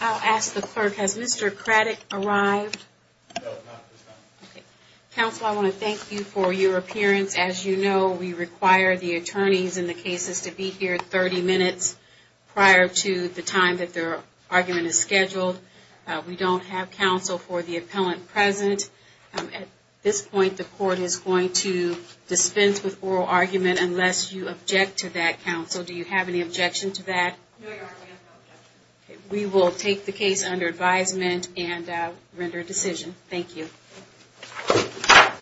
I'll ask the clerk, has Mr. Craddick arrived? No, not at this time. Okay. Counsel, I want to thank you for your appearance. As you know, we require the attorneys in the cases to be here 30 minutes prior to the time that their argument is scheduled. We don't have counsel for the appellant present. At this point, the court is going to dispense with oral argument unless you object to that, counsel. Do you have any objection to that? No, Your Honor, we have no objection. We will take the case under advisement and render a decision. Thank you.